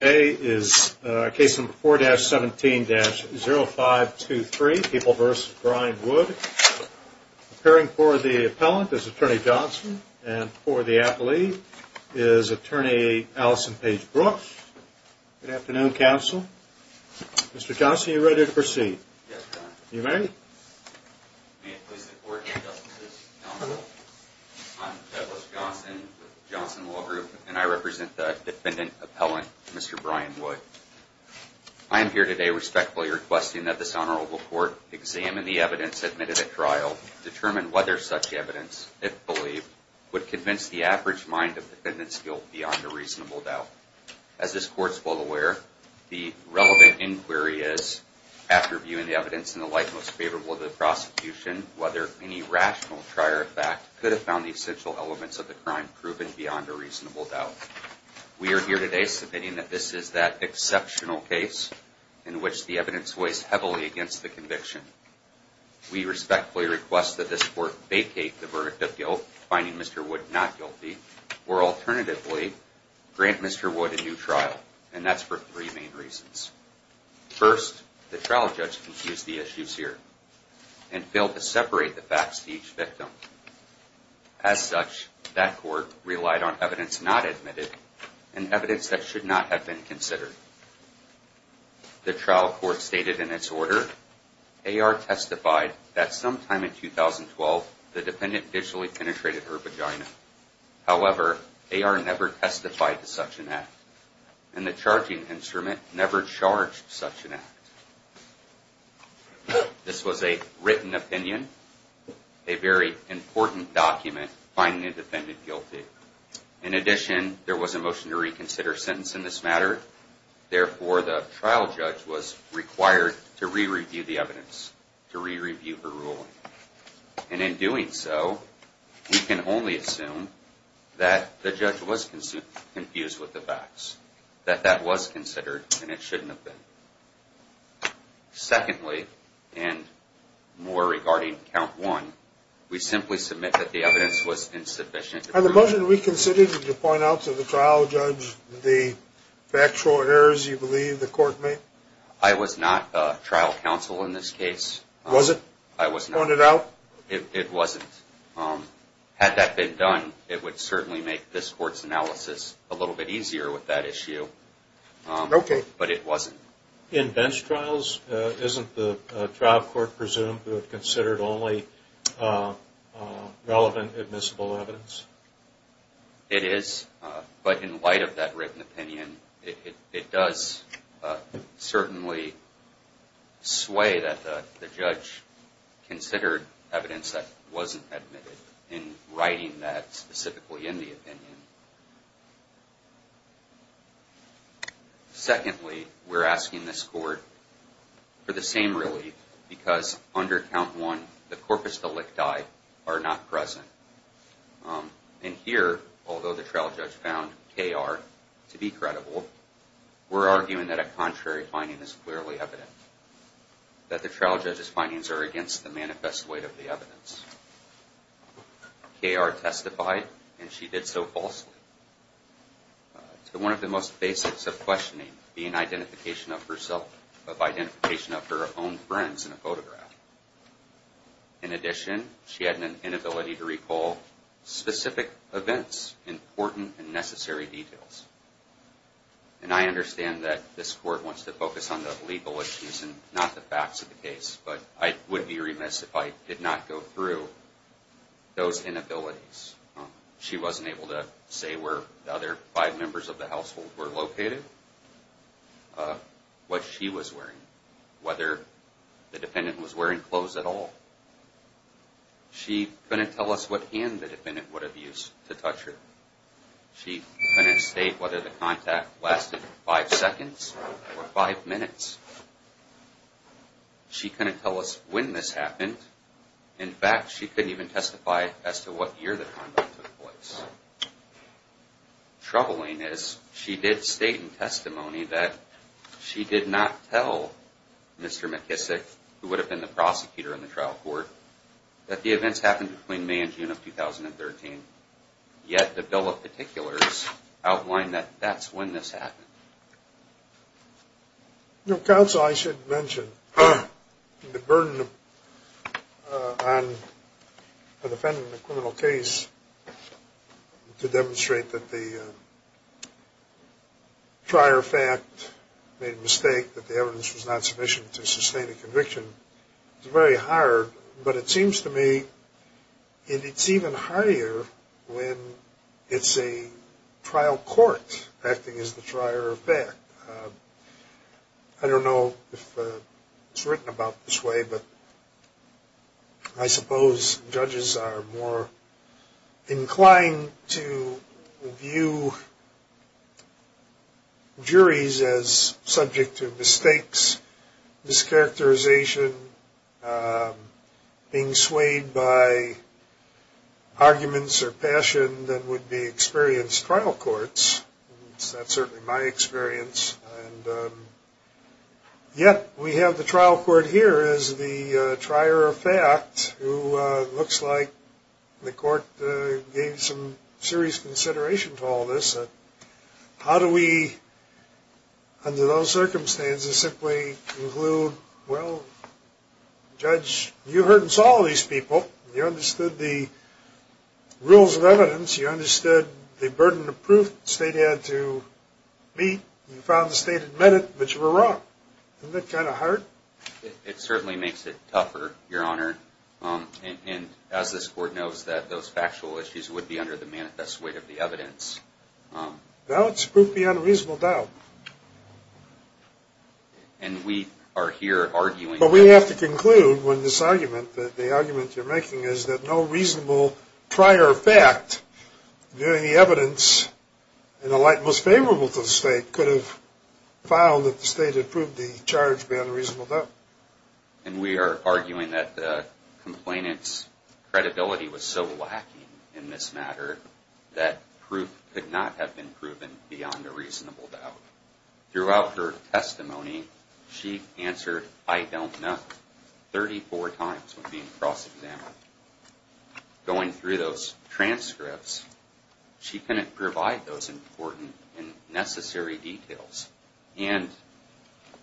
A is a case in 4-17-0523, People v. Brian Wood. Appearing for the appellant is Attorney Johnson, and for the athlete is Attorney Allison Page-Brooks. Good afternoon, counsel. Mr. Johnson, are you ready to proceed? Yes, Your Honor. You may. May it please the Court, Your Justice, counsel, I'm Douglas Johnson with Johnson Law Group, and I represent the defendant appellant, Mr. Brian Wood. I am here today respectfully requesting that this Honorable Court examine the evidence admitted at trial, determine whether such evidence, if believed, would convince the average mind of the defendant's guilt beyond a reasonable doubt. As this Court is well aware, the relevant inquiry is, after viewing the evidence in the light most favorable to the prosecution, whether any rational prior fact could have found the essential elements of the crime proven beyond a reasonable doubt. We are here today submitting that this is that exceptional case in which the evidence weighs heavily against the conviction. We respectfully request that this Court vacate the verdict of guilt, finding Mr. Wood not guilty, or alternatively, grant Mr. Wood a new trial. And that's for three main reasons. First, the trial judge confused the issues here and failed to separate the facts to each victim. As such, that Court relied on evidence not admitted and evidence that should not have been considered. The trial Court stated in its order, AR testified that sometime in 2012, the defendant visually penetrated her vagina. However, AR never testified to such an act. And the charging instrument never charged such an act. This was a written opinion, a very important document finding the defendant guilty. In addition, there was a motion to reconsider sentence in this matter. Therefore, the trial judge was required to re-review the evidence, to re-review her ruling. And in doing so, we can only assume that the judge was confused with the facts, that that was considered and it shouldn't have been. Secondly, and more regarding count one, we simply submit that the evidence was insufficient. On the motion to reconsider, did you point out to the trial judge the factual errors you believe the Court made? I was not trial counsel in this case. Was it? I was not. Pointed out? It wasn't. Had that been done, it would certainly make this Court's analysis a little bit easier with that issue. Okay. But it wasn't. In bench trials, isn't the trial Court presumed to have considered only relevant admissible evidence? It is. But in light of that written opinion, it does certainly sway that the judge considered evidence that wasn't admitted in writing that specifically in the opinion. Secondly, we're asking this Court for the same relief because under count one, the corpus delicti are not present. And here, although the trial judge found K.R. to be credible, we're arguing that a contrary finding is clearly evident. That the trial judge's findings are against the manifest weight of the evidence. K.R. testified and she did so falsely. So one of the most basics of questioning being identification of herself, of identification of her own friends in a photograph. In addition, she had an inability to recall specific events, important and necessary details. And I understand that this Court wants to focus on the legal issues and not the facts of the case. But I would be remiss if I did not go through those inabilities. She wasn't able to say where the other five members of the household were located, what she was wearing. Whether the defendant was wearing clothes at all. She couldn't tell us what hand the defendant would have used to touch her. She couldn't state whether the contact lasted five seconds or five minutes. She couldn't tell us when this happened. In fact, she couldn't even testify as to what year the conduct took place. Troubling is, she did state in testimony that she did not tell Mr. McKissick, who would have been the prosecutor in the trial court, that the events happened between May and June of 2013. Yet the bill of particulars outlined that that's when this happened. Counsel, I should mention the burden on a defendant in a criminal case to demonstrate that the prior fact made a mistake, that the evidence was not sufficient to sustain a conviction, is very hard. But it seems to me it's even hardier when it's a trial court acting as the trier of fact. I don't know if it's written about this way, but I suppose judges are more inclined to view juries as subject to mistakes, mischaracterization, being swayed by arguments or passion than would be experienced trial courts. That's certainly my experience. Yet we have the trial court here as the trier of fact who looks like the court gave some serious consideration to all this. How do we, under those circumstances, simply conclude, well, judge, you heard and saw all these people. You understood the rules of evidence. You understood the burden of proof the state had to meet. You found the state admitted that you were wrong. Isn't that kind of hard? It certainly makes it tougher, Your Honor. And as this court knows that those factual issues would be under the manifest weight of the evidence. Now it's proof beyond a reasonable doubt. And we are here arguing that. But we have to conclude when this argument, the argument you're making, is that no reasonable prior fact during the evidence in a light most favorable to the state could have found that the state had proved the charge beyond a reasonable doubt. And we are arguing that the complainant's credibility was so lacking in this matter that proof could not have been proven beyond a reasonable doubt. Throughout her testimony, she answered, I don't know, 34 times when being cross-examined. Going through those transcripts, she couldn't provide those important and necessary details. And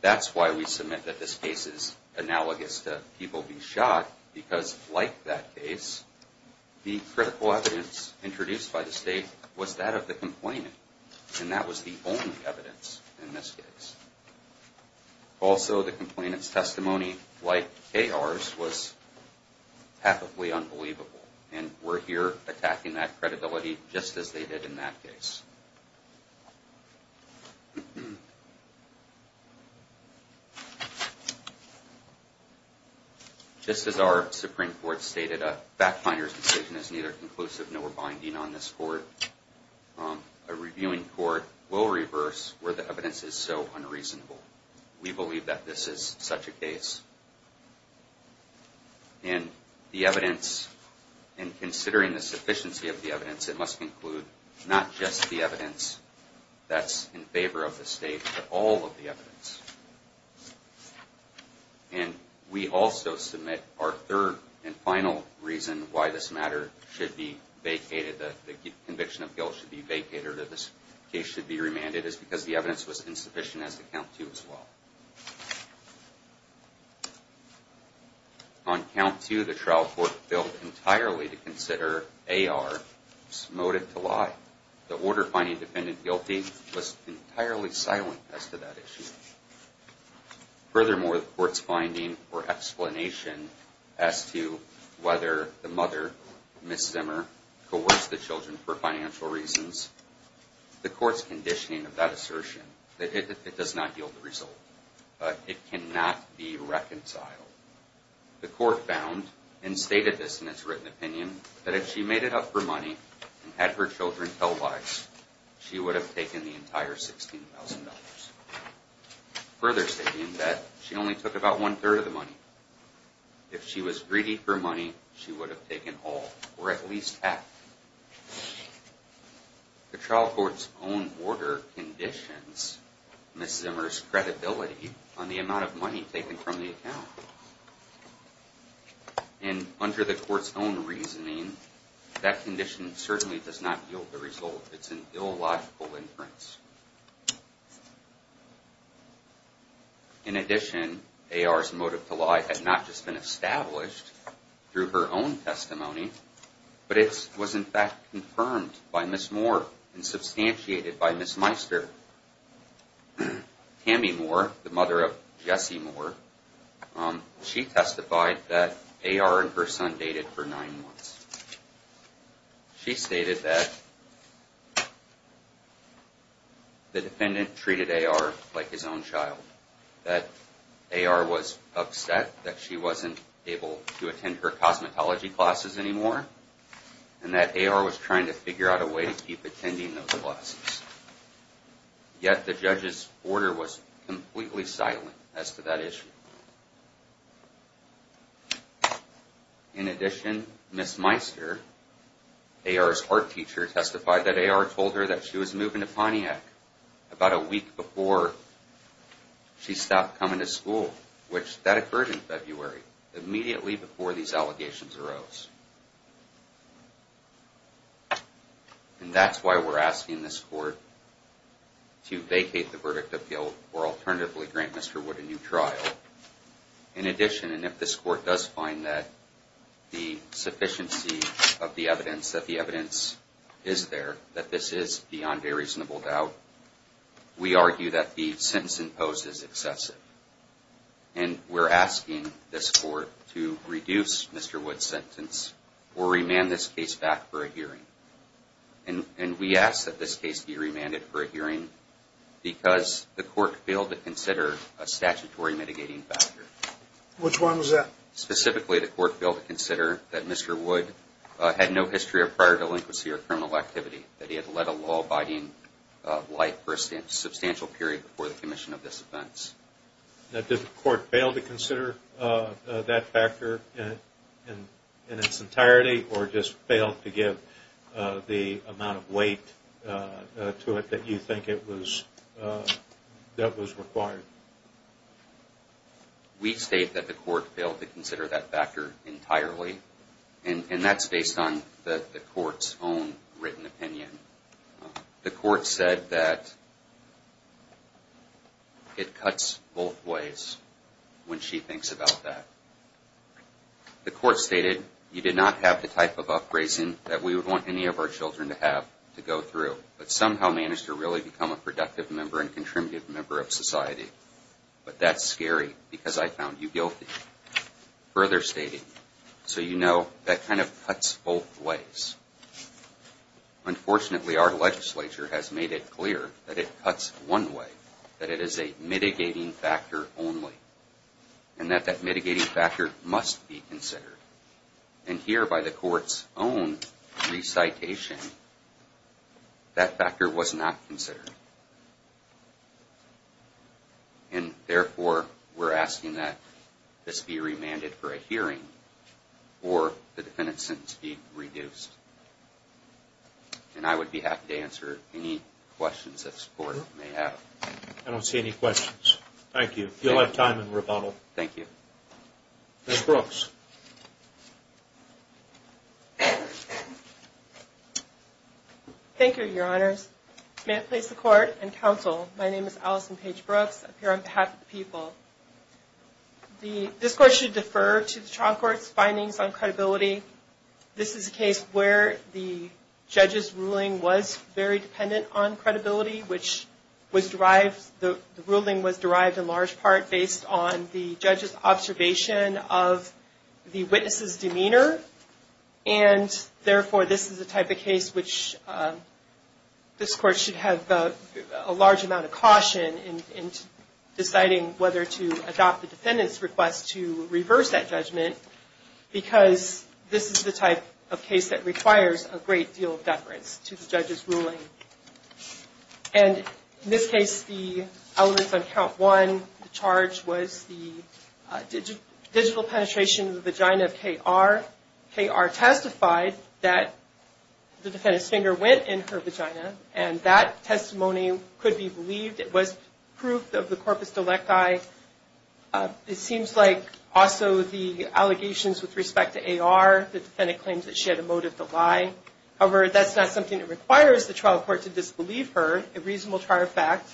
that's why we submit that this case is analogous to people being shot, because like that case, the critical evidence introduced by the state was that of the complainant. And that was the only evidence in this case. Also, the complainant's testimony, like K.R.'s, was pathically unbelievable. And we're here attacking that credibility, just as they did in that case. Just as our Supreme Court stated, a fact-finder's decision is neither conclusive nor binding on this court. A reviewing court will reverse where the evidence is so unreasonable. We believe that this is such a case. And the evidence, in considering the sufficiency of the evidence, it must include not just the evidence that's in favor of the state, but all of the evidence. And we also submit our third and final reason why this matter should be vacated, the conviction of guilt should be vacated, or this case should be remanded, is because the evidence was insufficient as to count to as well. On count to, the trial court failed entirely to consider A.R.'s motive to lie. The order-finding defendant guilty was entirely silent as to that issue. Furthermore, the court's finding or explanation as to whether the mother, Ms. Zimmer, coerced the children for financial reasons, the court's conditioning of that assertion, that it does not yield the result. It cannot be reconciled. The court found, and stated this in its written opinion, that if she made it up for money and had her children tell lies, she would have taken the entire $16,000. Further stating that she only took about one-third of the money, if she was greedy for money, she would have taken all, or at least half. The trial court's own order conditions Ms. Zimmer's credibility on the amount of money taken from the account. And under the court's own reasoning, that condition certainly does not yield the result. It's an illogical inference. In addition, A.R.'s motive to lie had not just been established through her own testimony, but it was in fact confirmed by Ms. Moore and substantiated by Ms. Meister. Tammy Moore, the mother of Jesse Moore, she testified that A.R. and her son dated for nine months. She stated that the defendant treated A.R. like his own child. That A.R. was upset that she wasn't able to attend her cosmetology classes anymore, and that A.R. was trying to figure out a way to keep attending those classes. Yet the judge's order was completely silent as to that issue. In addition, Ms. Meister, A.R.'s art teacher, testified that A.R. told her that she was moving to Pontiac about a week before she stopped coming to school, which that occurred in February, immediately before these allegations arose. And that's why we're asking this court to vacate the verdict appeal or alternatively grant Mr. Wood a new trial. In addition, and if this court does find that the sufficiency of the evidence, that the evidence is there, that this is beyond a reasonable doubt, we argue that the sentence imposed is excessive. And we're asking this court to reduce Mr. Wood's sentence or remand this case back for a hearing. And we ask that this case be remanded for a hearing because the court failed to consider a statutory mitigating factor. Which one was that? Specifically, the court failed to consider that Mr. Wood had no history of prior delinquency or criminal activity. That he had led a law-abiding life for a substantial period before the commission of this offense. Now, did the court fail to consider that factor in its entirety? Or just failed to give the amount of weight to it that you think it was, that was required? We state that the court failed to consider that factor entirely. And that's based on the court's own written opinion. The court said that it cuts both ways when she thinks about that. The court stated, you did not have the type of up-raising that we would want any of our children to have to go through. But somehow managed to really become a productive member and contributive member of society. But that's scary because I found you guilty. Further stating, so you know, that kind of cuts both ways. Unfortunately, our legislature has made it clear that it cuts one way. That it is a mitigating factor only. And that that mitigating factor must be considered. And here, by the court's own recitation, that factor was not considered. And therefore, we're asking that this be remanded for a hearing. Or the defendant's sentence be reduced. And I would be happy to answer any questions this court may have. I don't see any questions. Thank you. You'll have time in rebuttal. Thank you. Ms. Brooks. Thank you, Your Honors. May I place the court in counsel? My name is Allison Paige Brooks. I'm here on behalf of the people. This court should defer to the trial court's findings on credibility. This is a case where the judge's ruling was very dependent on credibility. Which was derived, the ruling was derived in large part based on the judge's observation of the witness's demeanor. And therefore, this is the type of case which this court should have a large amount of caution in deciding whether to adopt the defendant's request to reverse that judgment. Because this is the type of case that requires a great deal of deference to the judge's ruling. And in this case, the elements on count one, the charge was the digital penetration of the vagina of K.R. K.R. testified that the defendant's finger went in her vagina. And that testimony could be believed. It was proof of the corpus delicti. It seems like also the allegations with respect to A.R., the defendant claims that she had a motive to lie. However, that's not something that requires the trial court to disbelieve her. A reasonable trial fact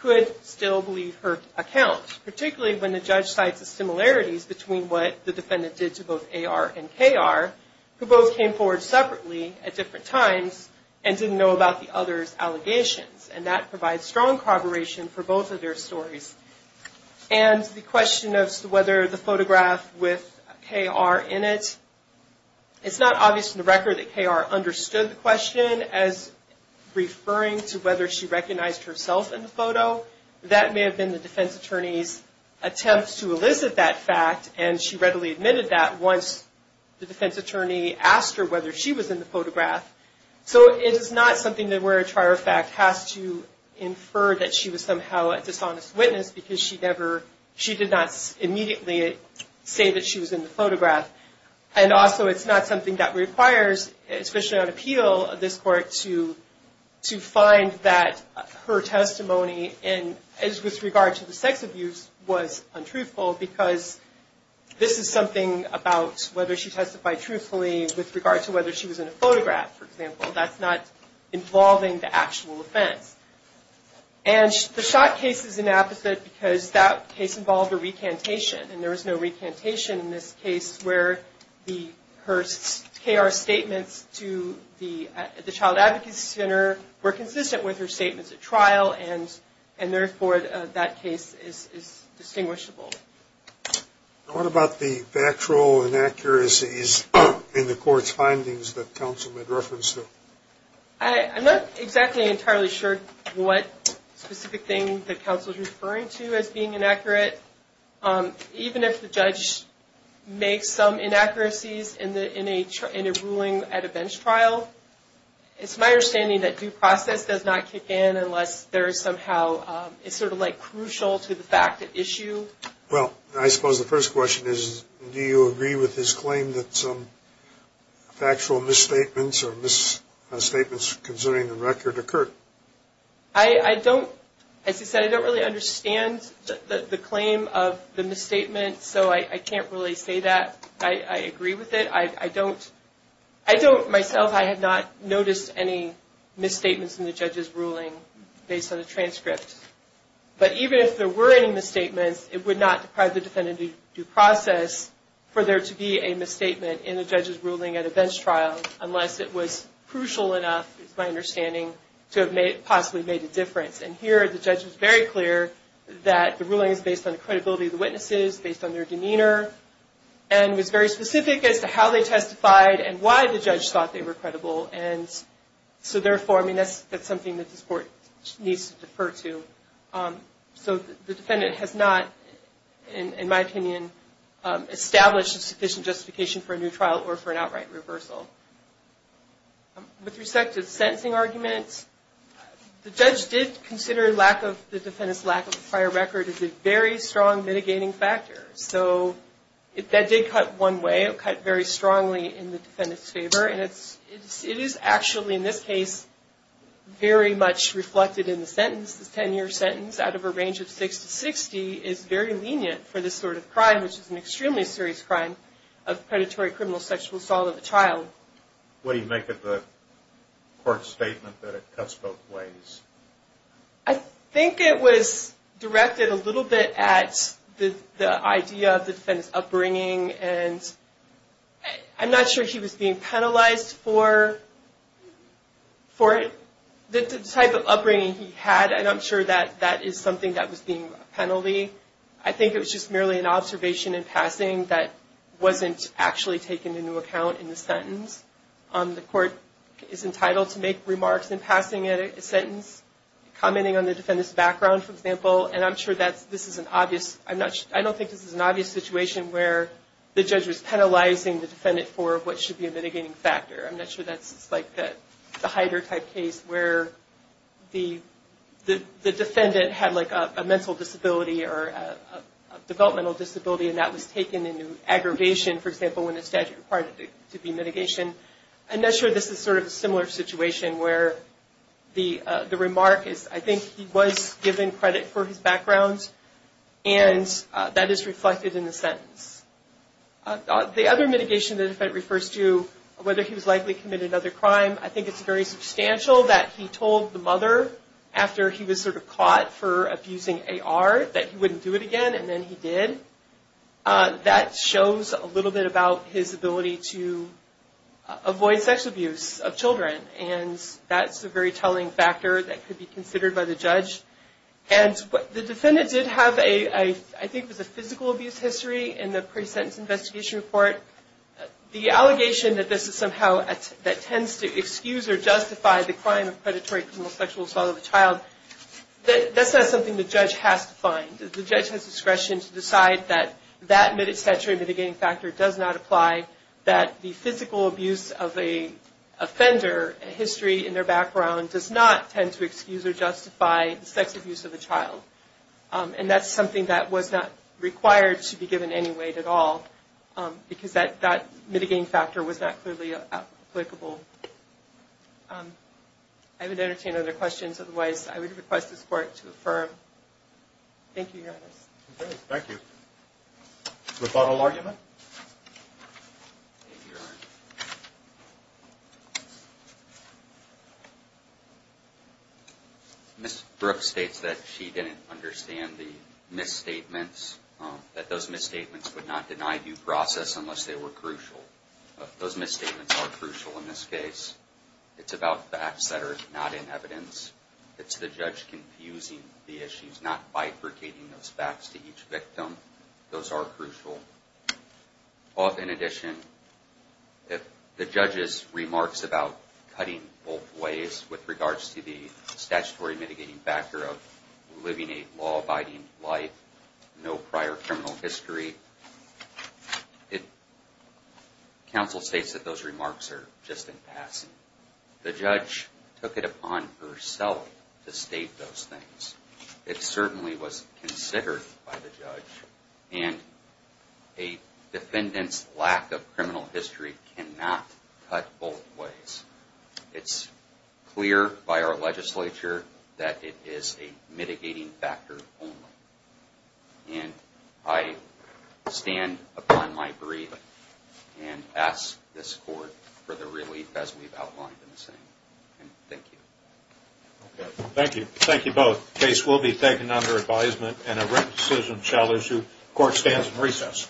could still believe her account. Particularly when the judge cites the similarities between what the defendant did to both A.R. and K.R. Who both came forward separately at different times and didn't know about the other's allegations. And that provides strong corroboration for both of their stories. And the question of whether the photograph with K.R. in it. It's not obvious to the record that K.R. understood the question as referring to whether she recognized herself in the photo. That may have been the defense attorney's attempt to elicit that fact. And she readily admitted that once the defense attorney asked her whether she was in the photograph. So it is not something where a trial fact has to infer that she was somehow a dishonest witness. Because she did not immediately say that she was in the photograph. And also it's not something that requires, especially on appeal, this court to find that her testimony with regard to the sex abuse was untruthful. Because this is something about whether she testified truthfully with regard to whether she was in a photograph, for example. That's not involving the actual offense. And the Schott case is an opposite because that case involved a recantation. And there was no recantation in this case where her K.R. statements to the child advocacy center were consistent with her statements at trial. And therefore that case is distinguishable. What about the factual inaccuracies in the court's findings that counsel had referenced? I'm not exactly entirely sure what specific thing that counsel is referring to as being inaccurate. Even if the judge makes some inaccuracies in a ruling at a bench trial, it's my understanding that due process does not kick in unless there is somehow, it's sort of like crucial to the fact at issue. Well, I suppose the first question is, do you agree with his claim that some factual misstatements or misstatements concerning the record occurred? I don't, as he said, I don't really understand the claim of the misstatement. So I can't really say that I agree with it. I don't, myself, I have not noticed any misstatements in the judge's ruling based on the transcript. But even if there were any misstatements, it would not deprive the defendant of due process for there to be a misstatement in the judge's ruling at a bench trial, unless it was crucial enough, it's my understanding, to have possibly made a difference. And here the judge was very clear that the ruling is based on the credibility of the witnesses, based on their demeanor, and was very specific as to how they testified and why the judge thought they were credible. And so therefore, I mean, that's something that this Court needs to defer to. So the defendant has not, in my opinion, established a sufficient justification for a new trial or for an outright reversal. With respect to the sentencing argument, the judge did consider the defendant's lack of a prior record as a very strong mitigating factor. That did cut one way, it cut very strongly in the defendant's favor. And it is actually, in this case, very much reflected in the sentence. The 10-year sentence, out of a range of 6 to 60, is very lenient for this sort of crime, which is an extremely serious crime of predatory criminal sexual assault of a child. What do you make of the Court's statement that it cuts both ways? I think it was directed a little bit at the idea of the defendant's upbringing. And I'm not sure he was being penalized for the type of upbringing he had, and I'm sure that that is something that was being a penalty. I think it was just merely an observation in passing that wasn't actually taken into account in the sentence. The Court is entitled to make remarks in passing a sentence, commenting on the defendant's background, for example. And I'm sure that this is an obvious, I don't think this is an obvious situation where the judge was penalizing the defendant for what should be a mitigating factor. I'm not sure that's like the Hyder type case where the defendant had like a mental disability or a developmental disability and that was taken into aggravation, for example, when the statute required it to be mitigation. I'm not sure this is sort of a similar situation where the remark is, I think he was given credit for his background, and that is reflected in the sentence. The other mitigation the defendant refers to, whether he was likely to commit another crime, I think it's very substantial that he told the mother after he was sort of caught for abusing AR that he wouldn't do it again, and then he did. That shows a little bit about his ability to avoid sex abuse of children, and that's a very telling factor that could be considered by the judge. And the defendant did have a, I think it was a physical abuse history in the pre-sentence investigation report. The allegation that this is somehow, that tends to excuse or justify the crime of predatory sexual assault of a child, that's not something the judge has to find. The judge has discretion to decide that that mid-century mitigating factor does not apply, that the physical abuse of a offender, a history in their background, does not tend to excuse or justify the sex abuse of a child. And that's something that was not required to be given any weight at all, because that mitigating factor was not clearly applicable. I would entertain other questions, otherwise I would request this Court to affirm. Thank you, Your Honor. Thank you. The final argument? Ms. Brooks states that she didn't understand the misstatements, that those misstatements would not deny due process unless they were crucial. Those misstatements are crucial in this case. It's about facts that are not in evidence. It's the judge confusing the issues, not bifurcating those facts to each victim. Those are crucial. In addition, if the judge's remarks about cutting both ways with regards to the statutory mitigating factor of living a law-abiding life, no prior criminal history, it certainly was considered by the judge, and a defendant's lack of criminal history cannot cut both ways. It's clear by our legislature that it is a mitigating factor only. And I stand upon my brief and ask this Court for the relief as we've outlined in the same. Thank you. Thank you. Thank you both. The case will be taken under advisement and a written decision shall issue. The Court stands in recess.